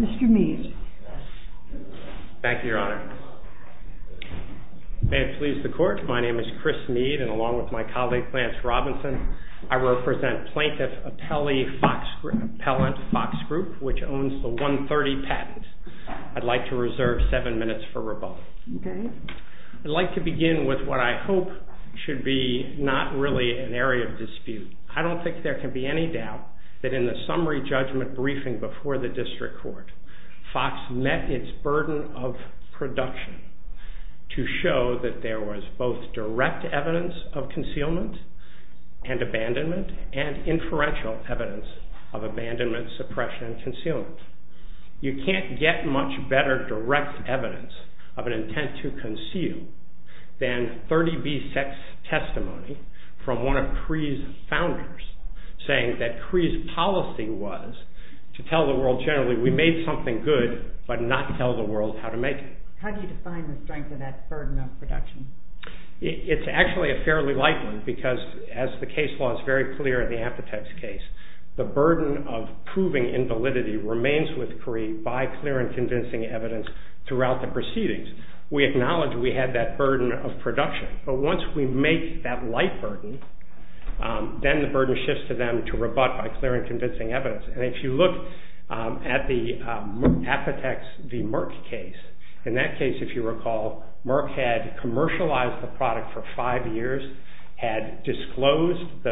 Mr. Meade. Thank you, Your Honor. May it please the Court, my name is Chris Meade, and along with my colleague Lance Robinson, I represent Plaintiff Appellant FOX GROUP, which owns the 130 patents. I'd like to reserve seven minutes for rebuttal. I'd like to begin with what I hope should be not really an area of dispute. I don't think there can be any doubt that in the summary judgment briefing before the District Court, FOX met its burden of production to show that there was both direct evidence of concealment and abandonment and inferential evidence of abandonment, suppression, and concealment. You can't get much better direct evidence of an intent to conceal than 30B sex testimony from one of CREE's founders, saying that CREE's policy was to tell the world generally we made something good, but not tell the world how to make it. How do you define the strength of that burden of production? It's actually a fairly light one, because as the case law is very clear in the Amputex case, the burden of proving invalidity remains with CREE by clear and convincing evidence throughout the proceedings. We acknowledge we had that burden of production, but once we make that light burden, then the burden shifts to them to rebut by clear and convincing evidence. And if you look at the Amputex v. Merck case, in that case, if you recall, Merck had commercialized the product for five years, had disclosed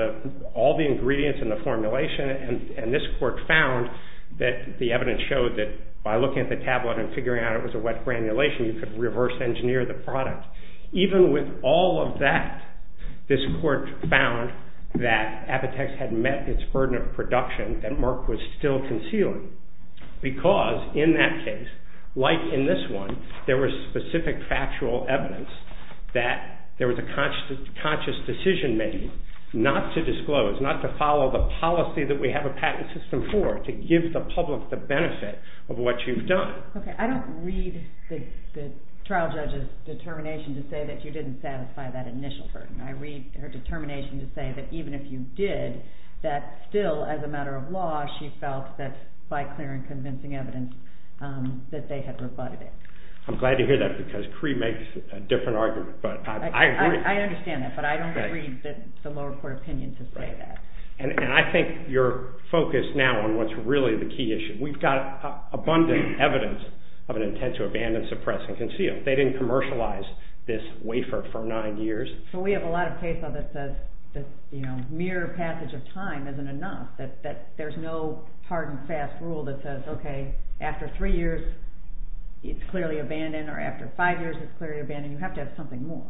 all the ingredients in the formulation, and this court found that the evidence showed that by looking at the tablet and figuring out it was a wet granulation, you could reverse engineer the product. Even with all of that, this court found that Amputex had met its burden of production that Merck was still concealing, because in that case, in this one, there was specific factual evidence that there was a conscious decision made not to disclose, not to follow the policy that we have a patent system for, to give the public the benefit of what you've done. Okay, I don't read the trial judge's determination to say that you didn't satisfy that initial burden. I read her determination to say that even if you did, that still, as a matter of law, she felt that by clear and convincing evidence, that they had rebutted it. I'm glad to hear that, because Cree makes a different argument. I understand that, but I don't read the lower court opinion to say that. And I think you're focused now on what's really the key issue. We've got abundant evidence of an intent to abandon, suppress, and conceal. They didn't commercialize this wafer for nine years. So we have a lot of case law that says mere passage of time isn't enough, that there's no hard and fast rule that says, okay, after three years, it's clearly abandoned, or after five years, it's clearly abandoned. You have to have something more.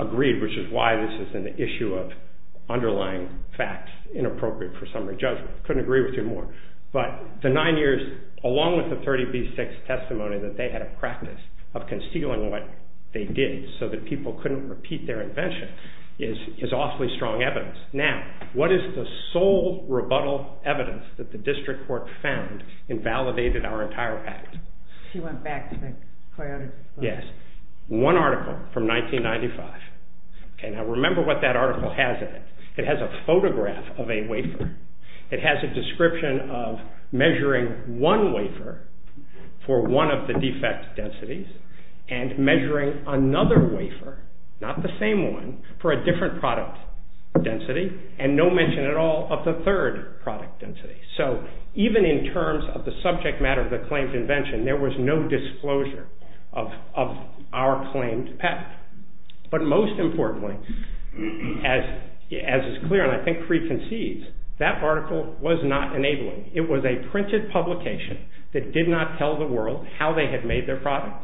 Agreed, which is why this is an issue of underlying facts, inappropriate for summary judgment. Couldn't agree with you more. But the nine years, along with the 30B6 testimony that they had a practice of concealing what they did, so that people couldn't repeat their invention, is awfully strong evidence. Now, what is the sole rebuttal evidence that the district court found invalidated our entire patent? She went back to the coyote. Yes. One article from 1995. Okay, now remember what that article has in it. It has a photograph of a wafer. It has a description of measuring one wafer for one of the defect densities and measuring another wafer, not the same one, for a different product density, and no mention at all of the third product density. So even in terms of the subject matter of the claimed invention, there was no disclosure of our claimed patent. But most importantly, as is clear and I think preconceives, that article was not enabling. It was a printed publication that did not tell the world how they had made their product.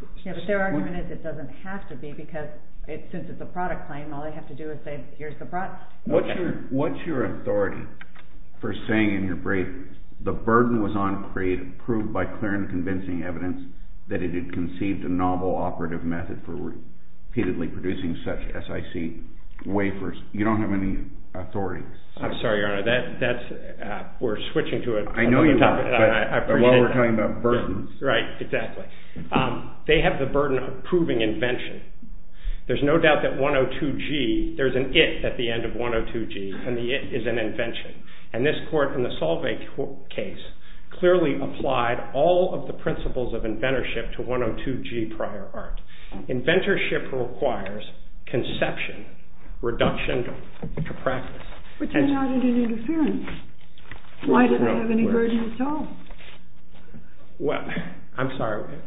But their argument is it doesn't have to be, because since it's a product claim, all they have to do is say, here's the product. What's your authority for saying in your brief, the burden was on creative, proved by clear and convincing evidence that it had conceived a novel operative method for repeatedly producing such SIC wafers. You don't have any authority. I'm sorry, Your Honor, that's, we're switching to a different topic, but while we're talking about burdens. Right, exactly. They have the burden of proving invention. There's no doubt that 102G, there's an it at the end of 102G, and the it is an invention. And this court in the Solvay case clearly applied all of the principles of inventorship to 102G prior art. Inventorship requires conception, reduction to practice. But you're not at an interference. Why do they have any burden at all? Well, I'm sorry.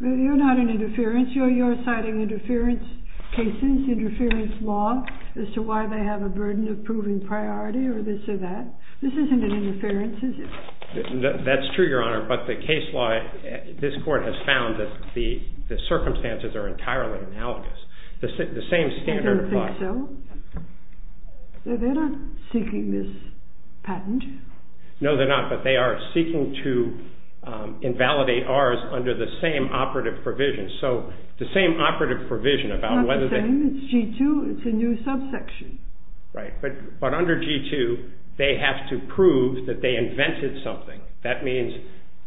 You're not an interference. You're citing interference cases, interference law as to why they have a burden of proving priority or this or that. This isn't an interference, is it? That's true, Your Honor, but the case law, this court has found that the circumstances are entirely analogous. The same standard applies. I don't think so. They're not seeking this patent. No, they're not, but they are seeking to invalidate ours under the same operative provision. So, the same operative provision about whether they. It's not the same, it's G2, it's a new subsection. Right, but under G2, they have to prove that they invented something. That means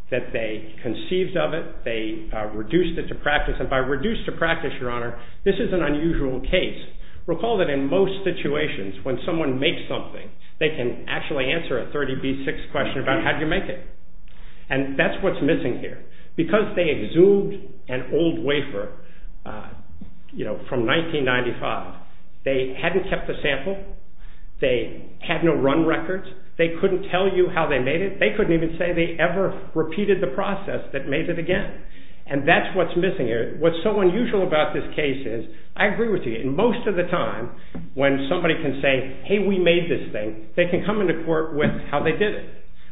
that they conceived of it, they reduced it to practice, and by reduced to practice, Your Honor, this is an unusual case. Recall that in most situations, when someone makes something, they can actually answer a 30B6 question about how did you make it. And that's what's missing here. Because they exhumed an old wafer from 1995, they hadn't kept the sample, they had no run records, they couldn't tell you how they made it, they couldn't even say they ever repeated the process that made it again. And that's what's missing here. What's so unusual about this case is, I agree with you, most of the time, when somebody can say, hey, we made this thing, they can come into court with how they did it.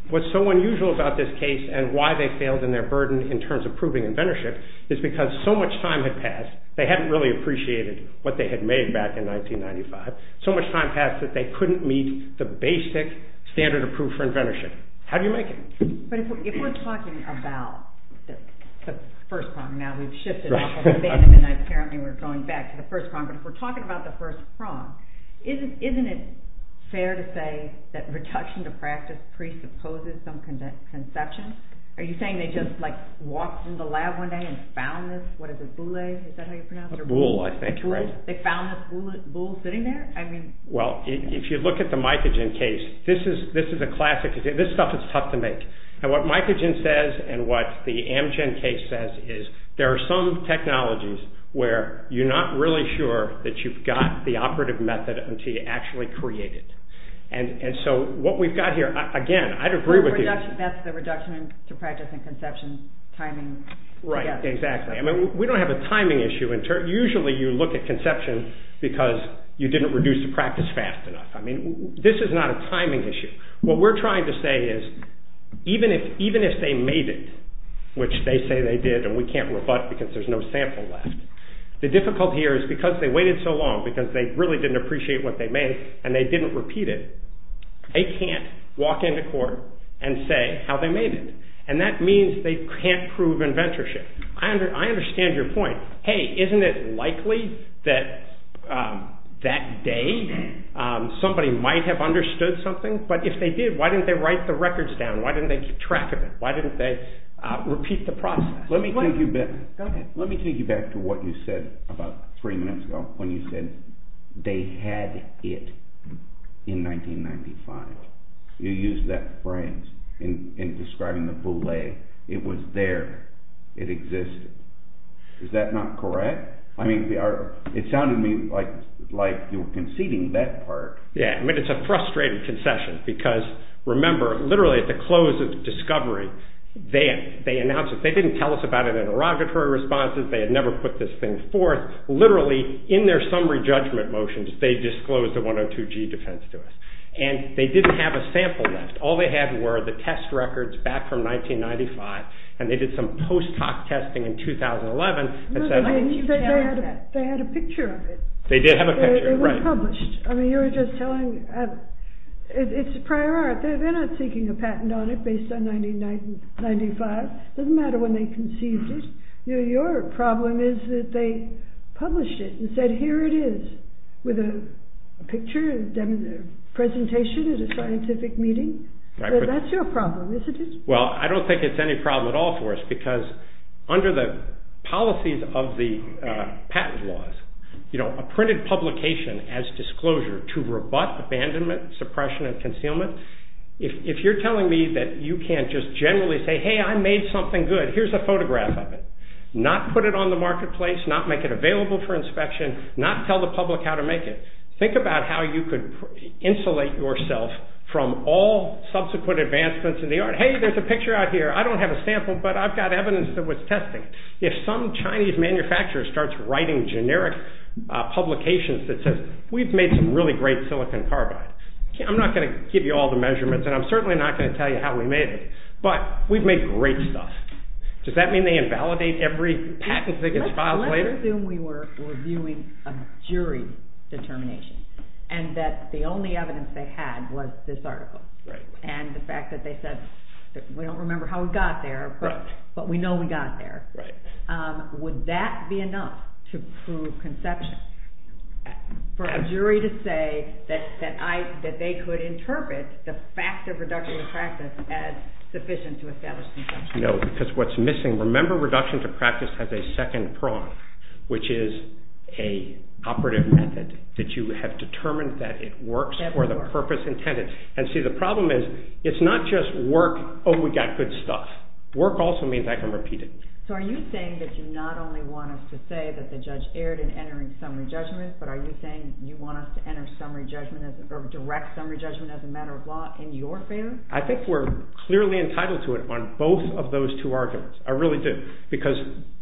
What's so unusual about this case and why they failed in their burden in terms of proving inventorship is because so much time had passed, they hadn't really appreciated what they had made back in 1995, so much time passed that they couldn't meet the basic standard approved for inventorship. How do you make it? But if we're talking about the first prong, now we've shifted off of abandonment, apparently we're going back to the first prong, but if we're talking about the first prong, isn't it fair to say that reduction to practice presupposes some conception? Are you saying they just like walked in the lab one day and found this, what is it, boulet, is that how you pronounce it? They found this boulet sitting there? Well, if you look at the Mycogen case, this is a classic, this stuff is tough to make. And what Mycogen says and what the Amgen case says is there are some technologies where you're not really sure that you've got the operative method until you actually create it. And so what we've got here, again, I'd agree with you. That's the reduction to practice and conception timing. Right, exactly. We don't have a timing issue. Usually you look at conception because you didn't reduce the practice fast enough. This is not a timing issue. What we're trying to say is even if they made it, which they say they did and we can't rebut because there's no sample left, the difficulty here is because they waited so long, because they really didn't appreciate what they made and they didn't repeat it, they can't walk into court and say how they made it. And that means they can't prove inventorship. I understand your point. Hey, isn't it likely that that day somebody might have understood something? But if they did, why didn't they write the records down? Why didn't they keep track of it? Why didn't they repeat the process? Let me take you back to what you said about three minutes ago when you said they had it in 1995. You used that phrase in describing the boule. It was there. It existed. Is that not correct? It sounded to me like you were conceding that part. Yeah, but it's a frustrated concession because remember, literally at the close of discovery, they announced it. They didn't tell us about it in interrogatory responses. They had never put this thing forth. Literally, in their summary judgment motions, they disclosed the 102G defense to us. And they didn't have a sample left. All they had were the test records back from 1995 and they did some post hoc testing in 2011. You said they had a picture of it. They did have a picture. It was published. It's a prior art. They're not seeking a patent on it based on 1995. It doesn't matter when they conceived it. Your problem is that they published it and said here it is with a picture, a presentation at a scientific meeting. That's your problem, isn't it? Well, I don't think it's any problem at all for us because under the policies of the patent laws, you know, a printed publication as disclosure to rebut abandonment, suppression, and concealment, if you're telling me that you can't just generally say, hey, I made something good, here's a photograph of it, not put it on the marketplace, not make it available for inspection, not tell the public how to make it, think about how you could insulate yourself from all subsequent advancements in the art. But hey, there's a picture out here. I don't have a sample, but I've got evidence that was tested. If some Chinese manufacturer starts writing generic publications that says we've made some really great silicon carbide, I'm not going to give you all the measurements and I'm certainly not going to tell you how we made it, but we've made great stuff. Does that mean they invalidate every patent that gets filed later? I assume we were reviewing a jury determination and that the only evidence they had was this article and the fact that they said, we don't remember how we got there, but we know we got there. Would that be enough to prove conception for a jury to say that they could interpret the fact of reduction of practice as sufficient to establish conception? No, because what's missing, remember reduction to practice has a second prong, which is a operative method that you have determined that it works for the purpose intended. And see, the problem is, it's not just work, oh, we got good stuff. Work also means I can repeat it. So are you saying that you not only want us to say that the judge erred in entering summary judgment, but are you saying you want us to enter direct summary judgment as a matter of law in your favor? I think we're clearly entitled to it on both of those two arguments. I really do. Because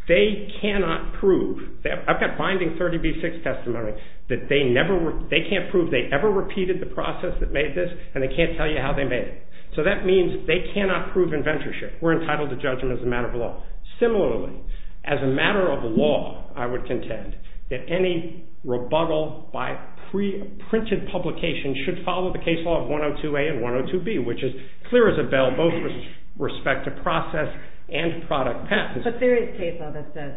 they cannot prove, I've got binding 30B6 testimony, that they can't prove they ever repeated the process that made this and they can't tell you how they made it. So that means they cannot prove inventorship. We're entitled to judgment as a matter of law. Similarly, as a matter of law, I would contend that any rebuttal by printed publication should follow the case law of 102A and 102B, which is clear as a bell, both with respect to process and product path. But there is case law that says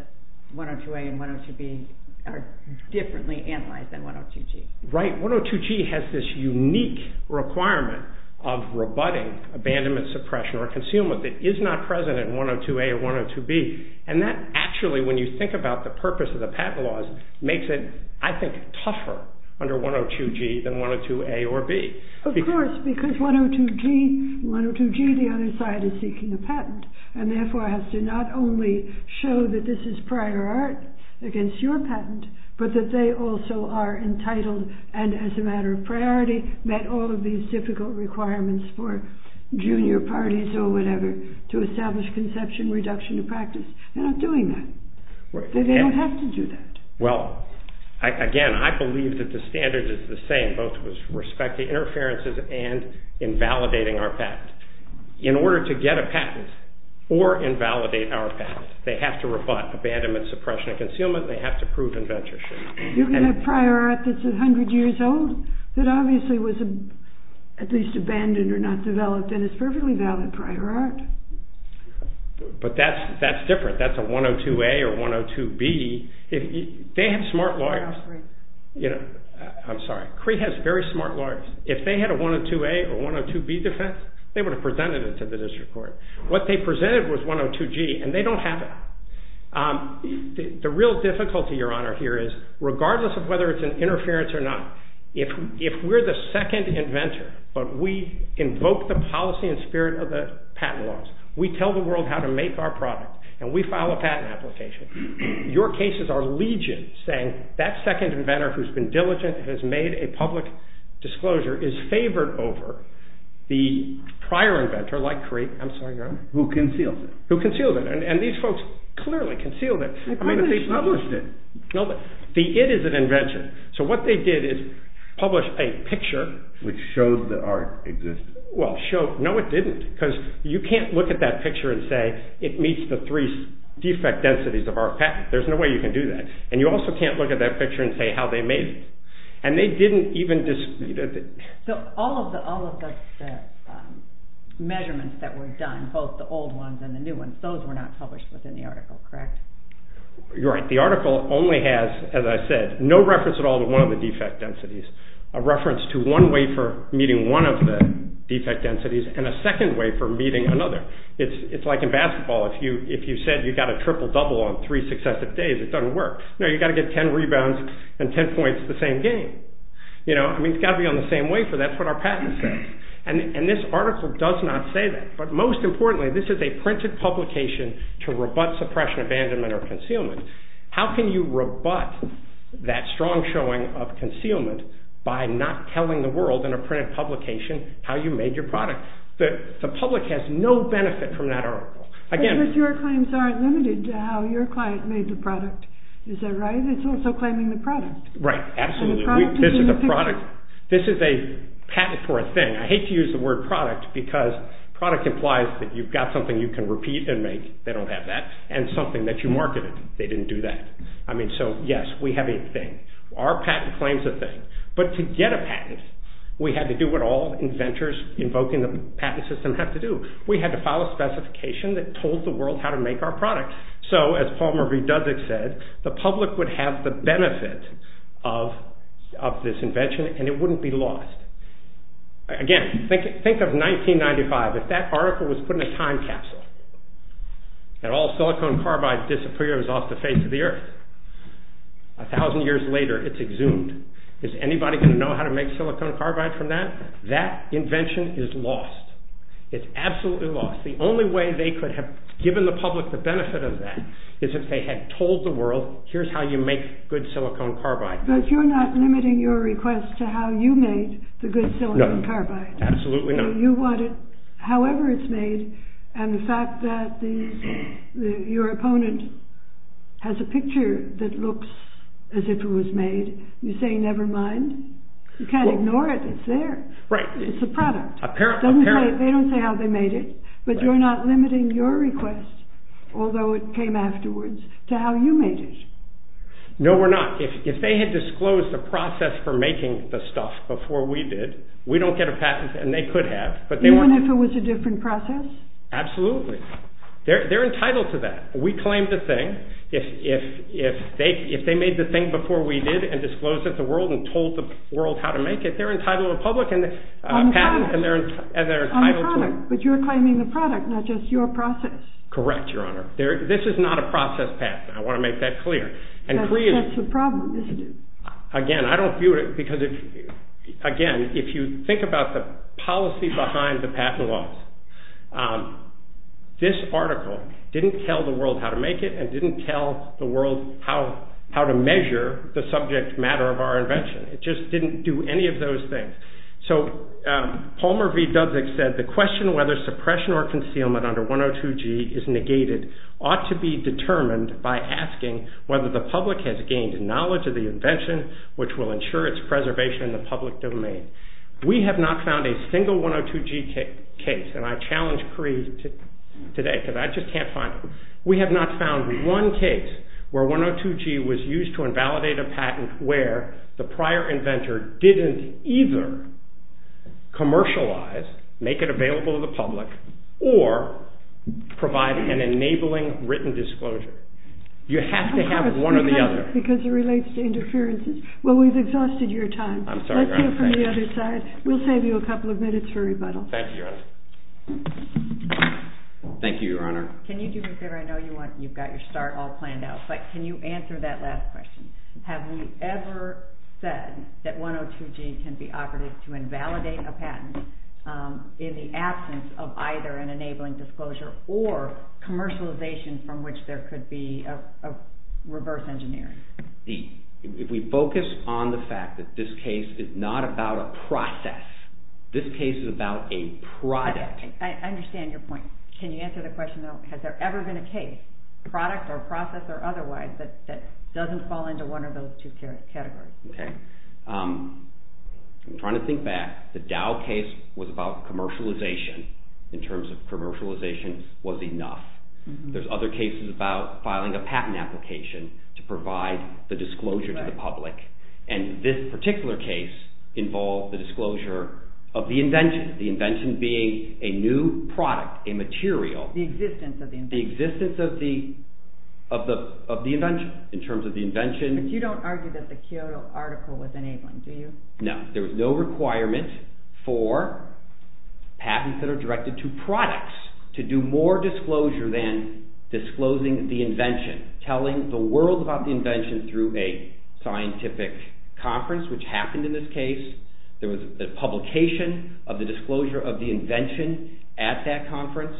102A and 102B are differently analyzed than 102G. Right. 102G has this unique requirement of rebutting abandonment, suppression, or concealment that is not present in 102A or 102B. And that actually, when you think about the purpose of the patent laws, makes it, I think, tougher under 102G than 102A or B. Of course, because 102G, the other side is seeking a patent and therefore has to not only show that this is prior art against your patent, but that they also are entitled and as a matter of priority met all of these difficult requirements for junior parties or whatever to establish conception reduction of practice. They're not doing that. They don't have to do that. Well, again, I believe that the standard is the same, both with respect to interferences and invalidating our patent. In order to get a patent or invalidate our patent, they have to rebut abandonment, suppression, and concealment. They have to prove inventorship. You can have prior art that's 100 years old that obviously was at least abandoned or not developed and is perfectly valid prior art. But that's different. That's a 102A or 102B. They have smart lawyers. I'm sorry. Crete has very smart lawyers. If they had a 102A or 102B defense, they would have presented it to the district court. What they presented was 102G, and they don't have it. The real difficulty, Your Honor, here is regardless of whether it's an interference or not, if we're the second inventor, but we invoke the policy and spirit of the patent laws, we tell the world how to make our product, and we file a patent application. Your cases are legion, saying that second inventor who's been diligent and has made a public disclosure is favored over the prior inventor like Crete. I'm sorry, Your Honor. Who concealed it. Who concealed it. And these folks clearly concealed it. I mean, they published it. The it is an invention. So what they did is publish a picture. Which showed that art existed. Well, no, it didn't, because you can't look at that picture and say it meets the three defect densities of our patent. There's no way you can do that. And you also can't look at that picture and say how they made it. So all of the measurements that were done, both the old ones and the new ones, those were not published within the article, correct? You're right. The article only has, as I said, no reference at all to one of the defect densities. A reference to one way for meeting one of the defect densities, and a second way for meeting another. It's like in basketball. If you said you got a triple-double on three successive days, it doesn't work. No, you've got to get ten rebounds and ten points the same game. You know, I mean, it's got to be on the same wafer. That's what our patent says. And this article does not say that. But most importantly, this is a printed publication to rebut suppression, abandonment, or concealment. How can you rebut that strong showing of concealment by not telling the world in a printed publication how you made your product? The public has no benefit from that article. Because your claims aren't limited to how your client made the product. Is that right? It's also claiming the product. This is a patent for a thing. I hate to use the word product, because product implies that you've got something you can repeat and make. They don't have that. And something that you marketed. They didn't do that. I mean, so, yes, we have a thing. Our patent claims a thing. But to get a patent, we had to do what all inventors invoking the patent system have to do. We had to file a specification that told the world how to make our product. So, as Paul-Marie Dudzik said, the public would have the benefit of this invention, and it wouldn't be lost. Again, think of 1995. If that article was put in a time capsule, and all silicon carbide disappears off the face of the earth, a thousand years later, it's exhumed. Is anybody going to know how to make silicon carbide from that? That invention is lost. It's absolutely lost. The only way they could have given the public the benefit of that is if they had told the world, here's how you make good silicon carbide. But you're not limiting your request to how you made the good silicon carbide. Absolutely not. You want it however it's made, and the fact that your opponent has a picture that looks as if it was made, you say, never mind. You can't ignore it. It's there. Right. It's a product. Apparently. They don't say how they made it, but you're not limiting your request, although it came afterwards, to how you made it. No, we're not. If they had disclosed the process for making the stuff before we did, we don't get a patent, and they could have. Even if it was a different process? Absolutely. They're entitled to that. We claim the thing. If they made the thing before we did, and disclosed it to the world, and told the world how to make it, they're entitled to a patent, and they're entitled to it. But you're claiming the product, not just your process. Correct, Your Honor. This is not a process patent. I want to make that clear. That's the problem. Again, I don't view it because, again, if you think about the policy behind the patent laws, this article didn't tell the world how to make it, and didn't tell the world how to measure the subject matter of our invention. It just didn't do any of those things. So Palmer V. Dudzik said, the question whether suppression or concealment under 102G is negated ought to be determined by asking whether the public has gained knowledge of the invention, which will ensure its preservation in the public domain. We have not found a single 102G case, and I challenge Cree today because I just can't find it. We have not found one case where 102G was used to invalidate a patent where the prior inventor didn't either commercialize, make it available to the public, or provide an enabling written disclosure. You have to have one or the other. Because it relates to interferences. Well, we've exhausted your time. I'm sorry, Your Honor. Let's go from the other side. We'll save you a couple of minutes for rebuttal. Thank you, Your Honor. Thank you, Your Honor. Can you do me a favor? I know you've got your start all planned out, but can you answer that last question? Have we ever said that 102G can be operative to invalidate a patent in the absence of either an enabling disclosure or commercialization from which there could be a reverse engineering? If we focus on the fact that this case is not about a process, this case is about a product. I understand your point. Can you answer the question, though? Has there ever been a case, product or process or otherwise, that doesn't fall into one of those two categories? Okay. I'm trying to think back. The Dow case was about commercialization in terms of commercialization was enough. There's other cases about filing a patent application to provide the disclosure to the public. This particular case involved the disclosure of the invention, the invention being a new product, a material. The existence of the invention. The existence of the invention in terms of the invention. You don't argue that the Kyoto article was enabling, do you? No. There was no requirement for patents that are directed to products to do more disclosure than disclosing the invention. Telling the world about the invention through a scientific conference, which happened in this case. There was a publication of the disclosure of the invention at that conference.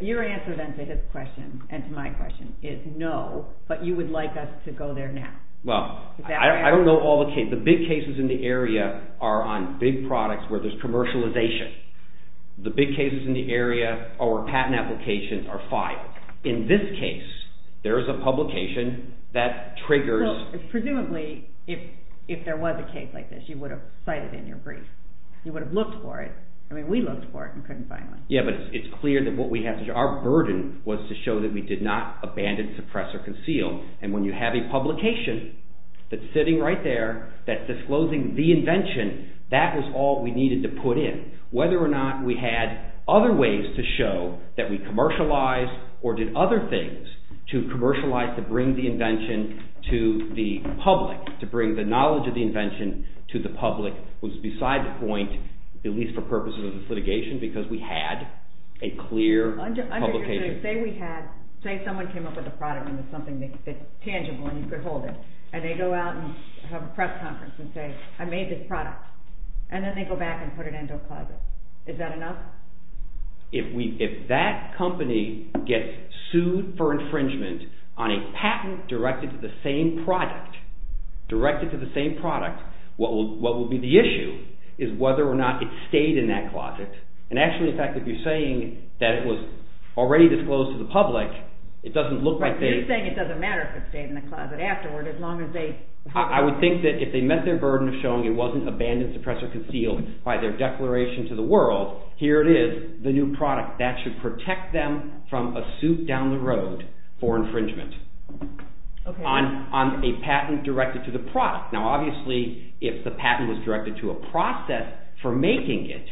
Your answer then to this question and to my question is no, but you would like us to go there now. Well, I don't know all the cases. The big cases in the area are on big products where there's commercialization. The big cases in the area or patent applications are filed. In this case, there's a publication that triggers. Presumably, if there was a case like this, you would have cited it in your brief. You would have looked for it. I mean, we looked for it and couldn't find one. Yeah, but it's clear that what we have to do, our burden was to show that we did not abandon, suppress or conceal. And when you have a publication that's sitting right there that's disclosing the invention, that was all we needed to put in. Whether or not we had other ways to show that we commercialized or did other things to commercialize to bring the invention to the public, to bring the knowledge of the invention to the public was beside the point, at least for purposes of this litigation, because we had a clear publication. Say someone came up with a product and it's tangible and you could hold it. And they go out and have a press conference and say, I made this product. And then they go back and put it into a closet. Is that enough? If that company gets sued for infringement on a patent directed to the same product, what will be the issue is whether or not it stayed in that closet. And actually, in fact, if you're saying that it was already disclosed to the public, it doesn't look like they… You're saying it doesn't matter if it stayed in the closet afterward as long as they… I would think that if they met their burden of showing it wasn't abandoned, suppressed or concealed by their declaration to the world, here it is, the new product. That should protect them from a suit down the road for infringement on a patent directed to the product. Now, obviously, if the patent was directed to a process for making it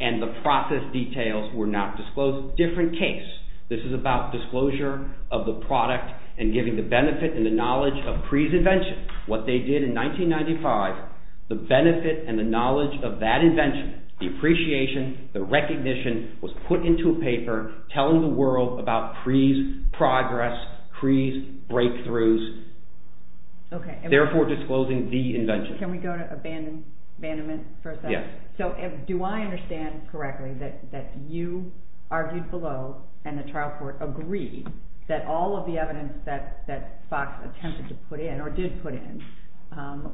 and the process details were not disclosed, different case. This is about disclosure of the product and giving the benefit and the knowledge of Pree's invention, what they did in 1995. The benefit and the knowledge of that invention, the appreciation, the recognition was put into a paper telling the world about Pree's progress, Pree's breakthroughs. Therefore, disclosing the invention. Can we go to abandonment for a second? Yes. So, do I understand correctly that you argued below and the trial court agreed that all of the evidence that Fox attempted to put in or did put in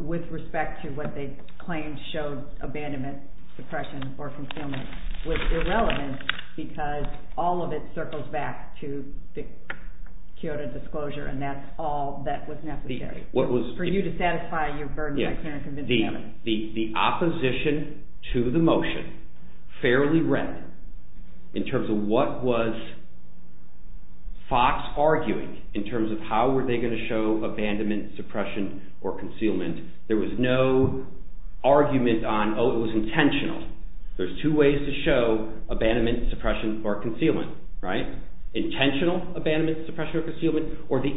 with respect to what they claimed showed abandonment, suppression or concealment was irrelevant because all of it circles back to the Kyoto disclosure and that's all that was necessary for you to satisfy your burden. The opposition to the motion fairly read in terms of what was Fox arguing in terms of how were they going to show abandonment, suppression or concealment. There was no argument on, oh, it was intentional. There's two ways to show abandonment, suppression or concealment, right? There's the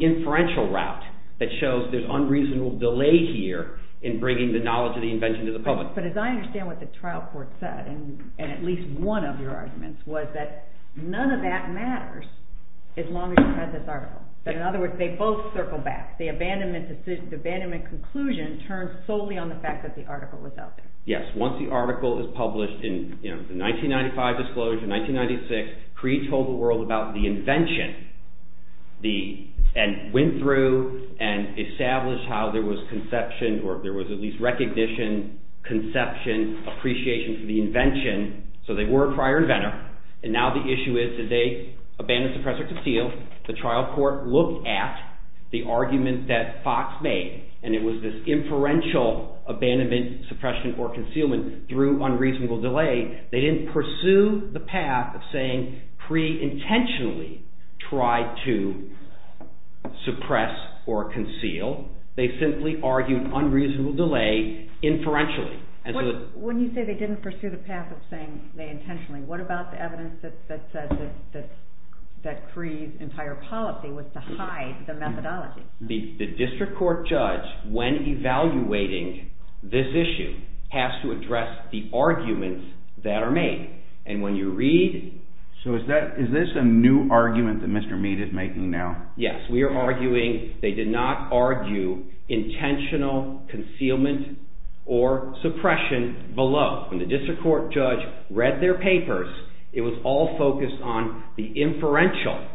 inferential route that shows there's unreasonable delay here in bringing the knowledge of the invention to the public. But as I understand what the trial court said and at least one of your arguments was that none of that matters as long as you read this article. In other words, they both circle back. The abandonment conclusion turned solely on the fact that the article was out there. Yes, once the article is published in the 1995 disclosure, 1996, Cree told the world about the invention and went through and established how there was conception or there was at least recognition, conception, appreciation for the invention. So they were a prior inventor and now the issue is did they abandon, suppress or conceal? So the trial court looked at the argument that Fox made and it was this inferential abandonment, suppression or concealment through unreasonable delay. They didn't pursue the path of saying Cree intentionally tried to suppress or conceal. They simply argued unreasonable delay inferentially. When you say they didn't pursue the path of saying they intentionally, what about the evidence that says that Cree's entire policy was to hide the methodology? The district court judge when evaluating this issue has to address the arguments that are made and when you read… So is this a new argument that Mr. Mead is making now? Yes, we are arguing, they did not argue intentional concealment or suppression below. When the district court judge read their papers, it was all focused on the inferential,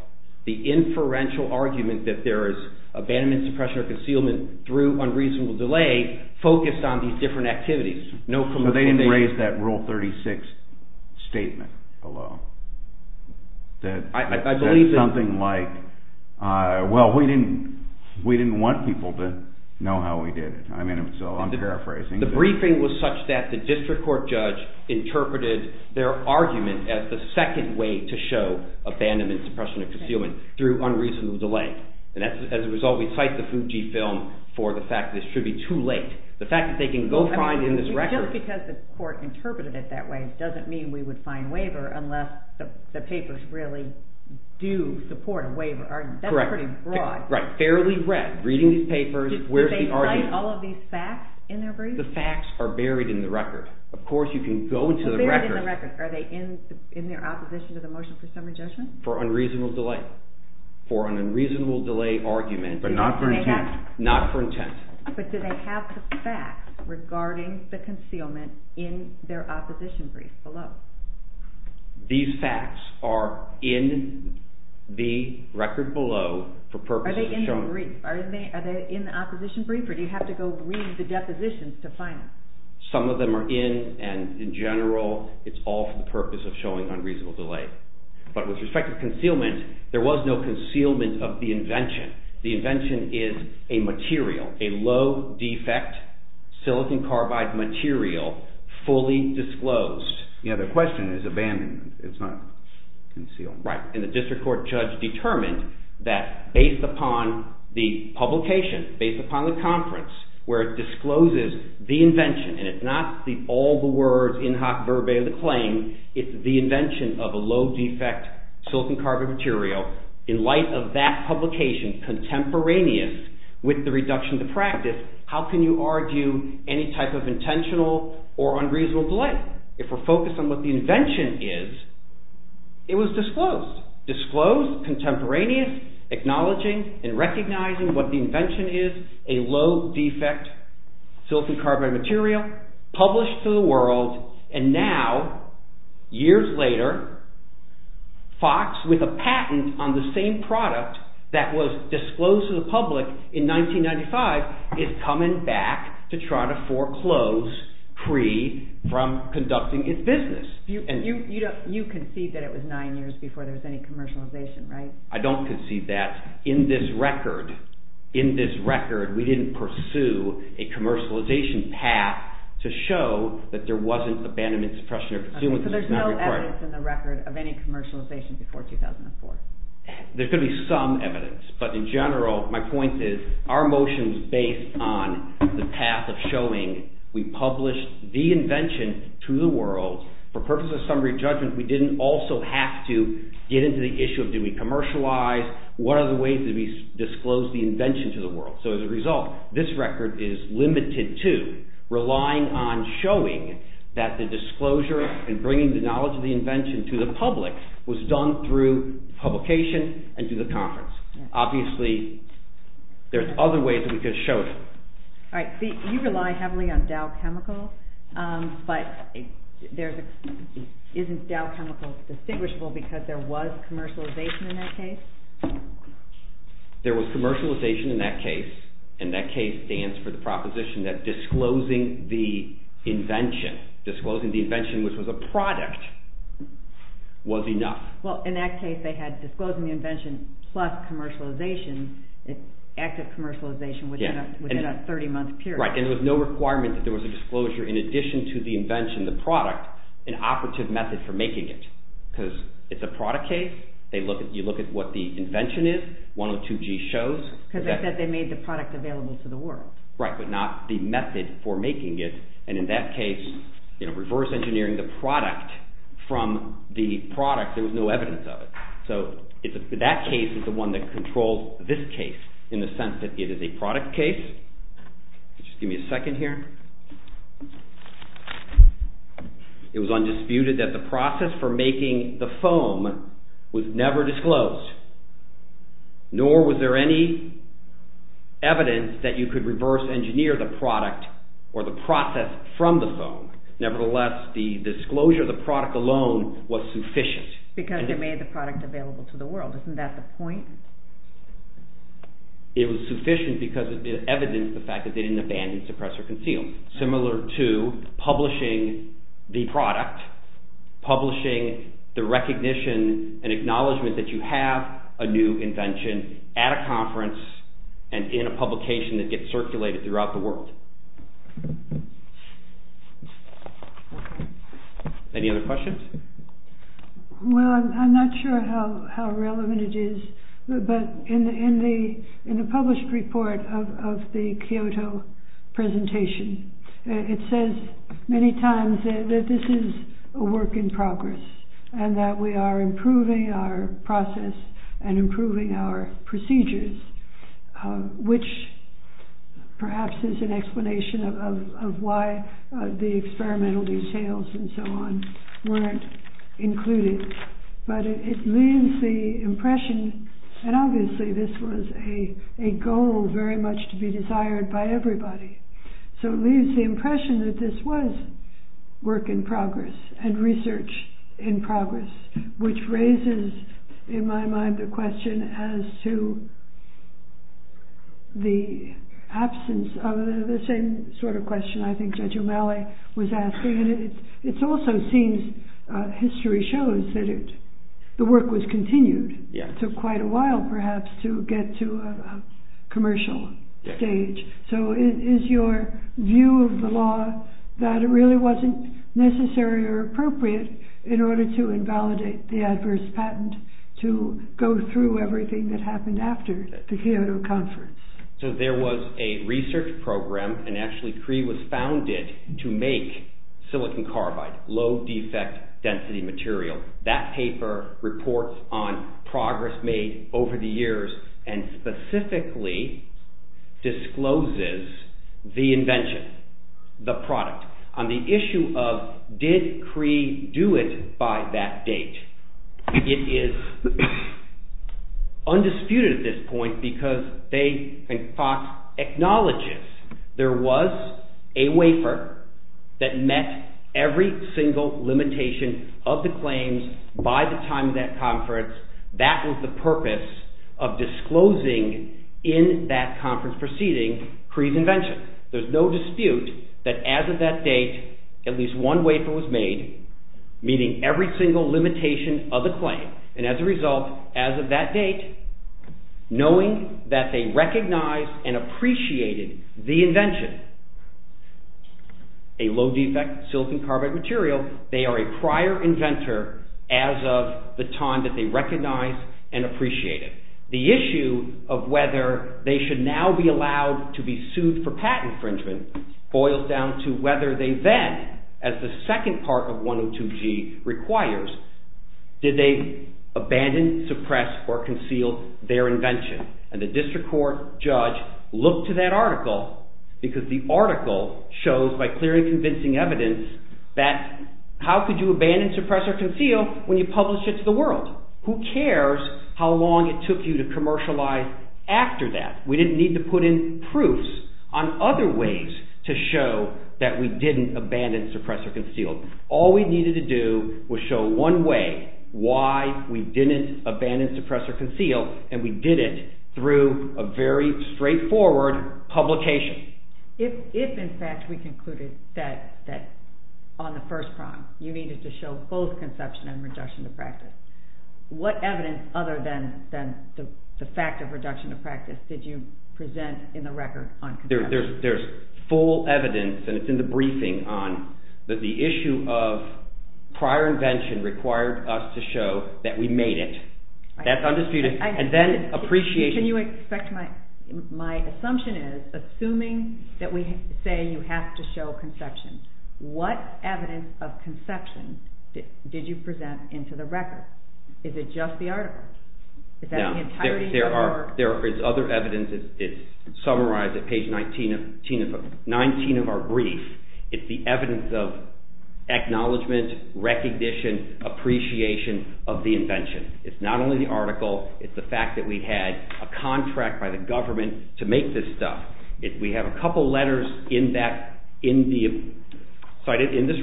the inferential argument that there is abandonment, suppression or concealment through unreasonable delay focused on these different activities. So they didn't raise that rule 36 statement below. I believe that… Something like, well, we didn't want people to know how we did it. So I'm paraphrasing. The briefing was such that the district court judge interpreted their argument as the second way to show abandonment, suppression or concealment through unreasonable delay. As a result, we cite the Fujifilm for the fact that this should be too late. The fact that they can go find in this record… Just because the court interpreted it that way doesn't mean we would find waiver unless the papers really do support a waiver argument. Correct. That's pretty broad. Fairly read, reading these papers, where's the argument? Do they cite all of these facts in their brief? The facts are buried in the record. Of course, you can go into the record… Buried in the record. Are they in their opposition to the motion for summary judgment? For unreasonable delay. For an unreasonable delay argument. But not for intent. Not for intent. But do they have the facts regarding the concealment in their opposition brief below? These facts are in the record below for purposes of showing… Are they in the brief? Are they in the opposition brief or do you have to go read the depositions to find them? Some of them are in and, in general, it's all for the purpose of showing unreasonable delay. But with respect to concealment, there was no concealment of the invention. The invention is a material, a low-defect silicon carbide material, fully disclosed. Yeah, the question is abandonment. It's not concealed. Right, and the district court judge determined that based upon the publication, based upon the conference where it discloses the invention, and it's not all the words in hoc verbae of the claim, it's the invention of a low-defect silicon carbide material. In light of that publication contemporaneous with the reduction to practice, how can you argue any type of intentional or unreasonable delay? If we're focused on what the invention is, it was disclosed. Disclosed, contemporaneous, acknowledging and recognizing what the invention is, a low-defect silicon carbide material, published to the world, and now, years later, Fox with a patent on the same product that was disclosed to the public in 1995 is coming back to try to foreclose free from conducting its business. You concede that it was nine years before there was any commercialization, right? I don't concede that. In this record, we didn't pursue a commercialization path to show that there wasn't abandonment, suppression or concealment. So there's no evidence in the record of any commercialization before 2004? There could be some evidence, but in general, my point is our motion is based on the path of showing we published the invention to the world. For purposes of summary judgment, we didn't also have to get into the issue of did we commercialize, what are the ways that we disclosed the invention to the world. So as a result, this record is limited to relying on showing that the disclosure and bringing the knowledge of the invention to the public was done through publication and through the conference. Obviously, there's other ways that we could have showed it. All right, so you rely heavily on Dow Chemical, but isn't Dow Chemical distinguishable because there was commercialization in that case? There was commercialization in that case, and that case stands for the proposition that disclosing the invention, disclosing the invention which was a product, was enough. Well, in that case, they had disclosing the invention plus commercialization, active commercialization within a 30-month period. Right, and there was no requirement that there was a disclosure in addition to the invention, the product, an operative method for making it because it's a product case. You look at what the invention is, 102G shows. Because they said they made the product available to the world. Right, but not the method for making it, and in that case, reverse engineering the product from the product, there was no evidence of it. So that case is the one that controls this case in the sense that it is a product case. Just give me a second here. It was undisputed that the process for making the foam was never disclosed, nor was there any evidence that you could reverse engineer the product or the process from the foam. Nevertheless, the disclosure of the product alone was sufficient. Because they made the product available to the world. Isn't that the point? It was sufficient because it evidenced the fact that they didn't abandon, suppress, or conceal. Similar to publishing the product, publishing the recognition and acknowledgement that you have a new invention at a conference and in a publication that gets circulated throughout the world. Any other questions? Well, I'm not sure how relevant it is. But in the published report of the Kyoto presentation, it says many times that this is a work in progress and that we are improving our process and improving our procedures, which perhaps is an explanation of why the experimental details and so on weren't included. But it leaves the impression, and obviously this was a goal very much to be desired by everybody, so it leaves the impression that this was work in progress and research in progress, which raises in my mind the question as to the absence of the same sort of question I think that Jumele was asking. It also seems, history shows, that the work was continued. It took quite a while perhaps to get to a commercial stage. So is your view of the law that it really wasn't necessary or appropriate in order to invalidate the adverse patent to go through everything that happened after the Kyoto conference? So there was a research program, and actually Cree was founded to make silicon carbide, low defect density material. That paper reports on progress made over the years and specifically discloses the invention, the product. On the issue of did Cree do it by that date, it is undisputed at this point because they, and Fox, acknowledges there was a wafer that met every single limitation of the claims by the time of that conference. That was the purpose of disclosing in that conference proceeding Cree's invention. There's no dispute that as of that date at least one wafer was made, meaning every single limitation of the claim. And as a result, as of that date, knowing that they recognized and appreciated the invention, a low defect silicon carbide material, they are a prior inventor as of the time that they recognized and appreciated. The issue of whether they should now be allowed to be sued for patent infringement boils down to whether they then, as the second part of 102G requires, did they abandon, suppress, or conceal their invention? And the district court judge looked to that article because the article shows by clear and convincing evidence that how could you abandon, suppress, or conceal when you publish it to the world? Who cares how long it took you to commercialize after that? We didn't need to put in proofs on other ways to show that we didn't abandon, suppress, or conceal. All we needed to do was show one way why we didn't abandon, suppress, or conceal, and we did it through a very straightforward publication. If in fact we concluded that on the first prong you needed to show both conception and reduction of practice, what evidence other than the fact of reduction of practice did you present in the record on conception? There's full evidence, and it's in the briefing, on that the issue of prior invention required us to show that we made it. That's undisputed. And then appreciation... Can you expect my assumption is, assuming that we say you have to show conception, what evidence of conception did you present into the record? Is it just the article? Is that the entirety of the work? There is other evidence. It's summarized at page 19 of our brief. It's the evidence of acknowledgement, recognition, appreciation of the invention. It's not only the article, it's the fact that we had a contract by the government to make this stuff. We have a couple letters in this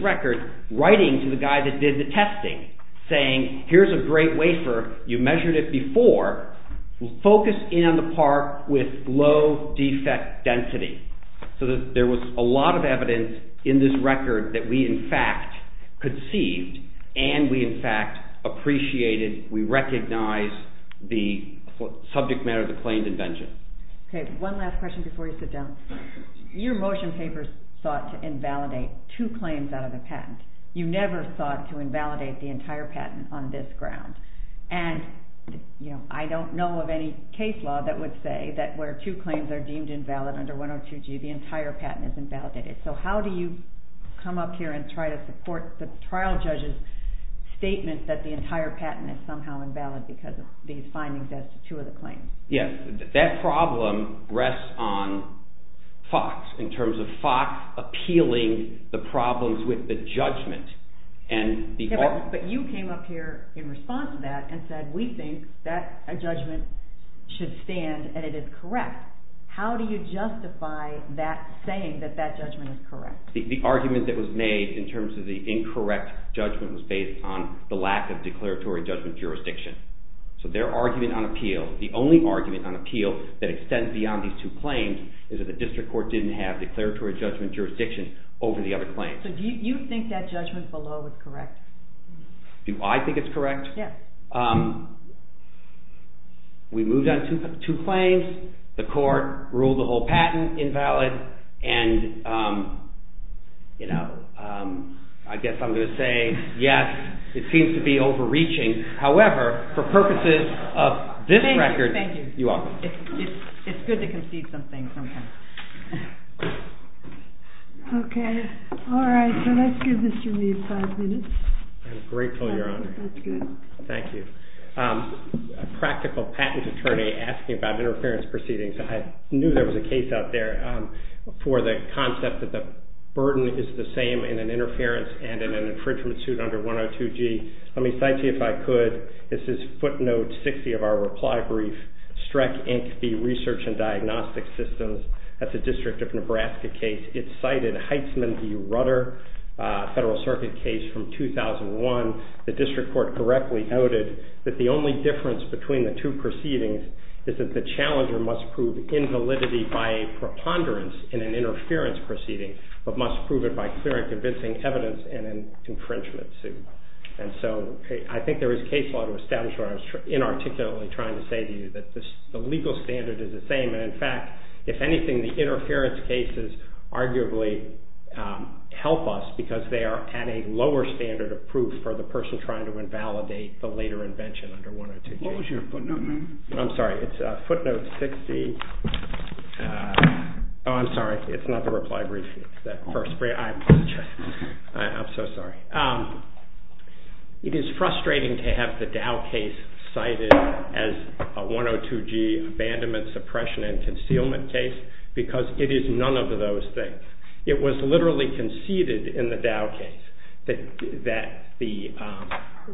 record writing to the guy that did the testing, saying, here's a great wafer, you measured it before, focus in on the part with low defect density. So there was a lot of evidence in this record that we in fact conceived, and we in fact appreciated, we recognized the subject matter of the claimed invention. One last question before you sit down. Your motion papers sought to invalidate two claims out of the patent. You never sought to invalidate the entire patent on this ground. And I don't know of any case law that would say that where two claims are deemed invalid under 102G, the entire patent is invalidated. So how do you come up here and try to support the trial judge's statement that the entire patent is somehow invalid because of these findings as to two of the claims? Yes, that problem rests on Fox, in terms of Fox appealing the problems with the judgment. But you came up here in response to that and said we think that a judgment should stand and it is correct. How do you justify that saying that that judgment is correct? The argument that was made in terms of the incorrect judgment was based on the lack of declaratory judgment jurisdiction. So their argument on appeal, the only argument on appeal that extends beyond these two claims, is that the district court didn't have declaratory judgment jurisdiction over the other claims. So do you think that judgment below is correct? Do I think it's correct? Yes. We moved on two claims, the court ruled the whole patent invalid, and I guess I'm going to say yes, it seems to be overreaching. However, for purposes of this record, you are. Thank you. It's good to concede something sometimes. Okay. All right. So let's give Mr. Lee five minutes. I'm grateful, Your Honor. That's good. Thank you. A practical patent attorney asking about interference proceedings. I knew there was a case out there for the concept that the burden is the same in an interference and in an infringement suit under 102G. Let me cite to you, if I could, this is footnote 60 of our reply brief, Streck, Inc. v. Research and Diagnostic Systems. That's a District of Nebraska case. It cited Heitzman v. Rudder, Federal Circuit case from 2001. The district court correctly noted that the only difference between the two proceedings is that the challenger must prove invalidity by a preponderance in an interference proceeding, but must prove it by clear and convincing evidence in an infringement suit. And so I think there is case law to establish what I was inarticulately trying to say to you, that the legal standard is the same. And, in fact, if anything, the interference cases arguably help us because they are at a lower standard of proof for the person trying to invalidate the later invention under 102G. What was your footnote number? I'm sorry. It's footnote 60. Oh, I'm sorry. It's not the reply brief. I'm so sorry. It is frustrating to have the Dow case cited as a 102G abandonment, suppression, and concealment case because it is none of those things. It was literally conceded in the Dow case that the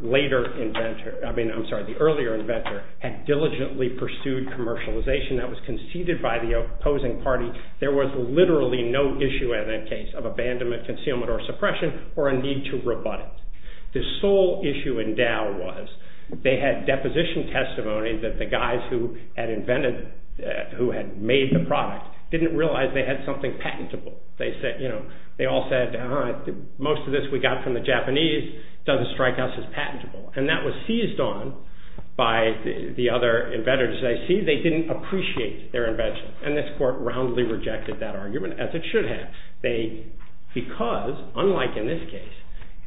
later inventor, I mean, I'm sorry, the earlier inventor had diligently pursued commercialization that was conceded by the opposing party. There was literally no issue in that case of abandonment, concealment, or suppression or a need to rebut it. The sole issue in Dow was they had deposition testimony that the guys who had invented, who had made the product, didn't realize they had something patentable. They all said, most of this we got from the Japanese. It doesn't strike us as patentable. And that was seized on by the other inventors. They didn't appreciate their invention. And this court roundly rejected that argument, as it should have. Because, unlike in this case,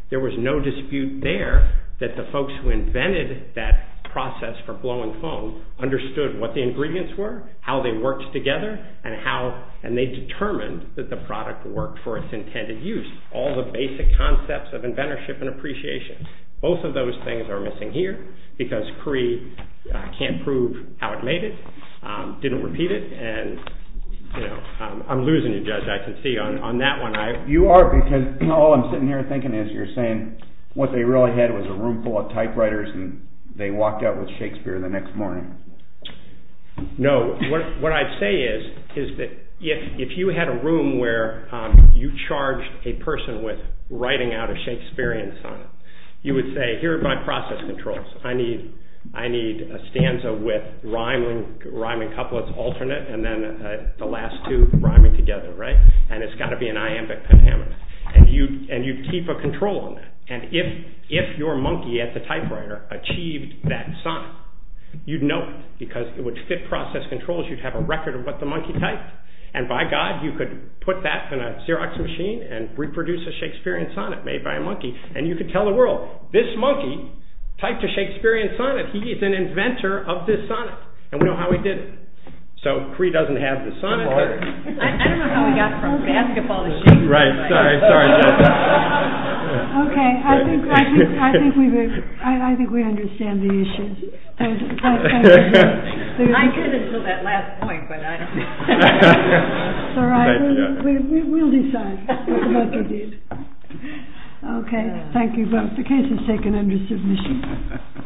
there was no dispute there that the folks who invented that process for blow and foam understood what the ingredients were, how they worked together, and they determined that the product worked for its intended use, all the basic concepts of inventorship and appreciation. Both of those things are missing here, because Cree can't prove how it made it, didn't repeat it, and I'm losing you, Judge, I can see on that one. You are, because all I'm sitting here thinking is you're saying what they really had was a room full of typewriters and they walked out with Shakespeare the next morning. No, what I'd say is that if you had a room where you charged a person with writing out a Shakespearean sonnet, you would say, here are my process controls, I need a stanza with rhyming couplets alternate and then the last two rhyming together, right? And it's got to be an iambic pentameter. And you'd keep a control on that. And if your monkey at the typewriter achieved that sonnet, you'd know it. Because it would fit process controls, you'd have a record of what the monkey typed. And by God, you could put that in a Xerox machine and reproduce a Shakespearean sonnet made by a monkey. And you could tell the world, this monkey typed a Shakespearean sonnet. He is an inventor of this sonnet. And we know how he did it. So, Cree doesn't have the sonnet. I don't know how he got from basketball to shooting. Right, sorry, sorry, Judge. Okay, I think we understand the issue. I could until that last point, but I don't know. It's all right, we'll decide what the monkey did. Okay, thank you both. The case is taken under submission.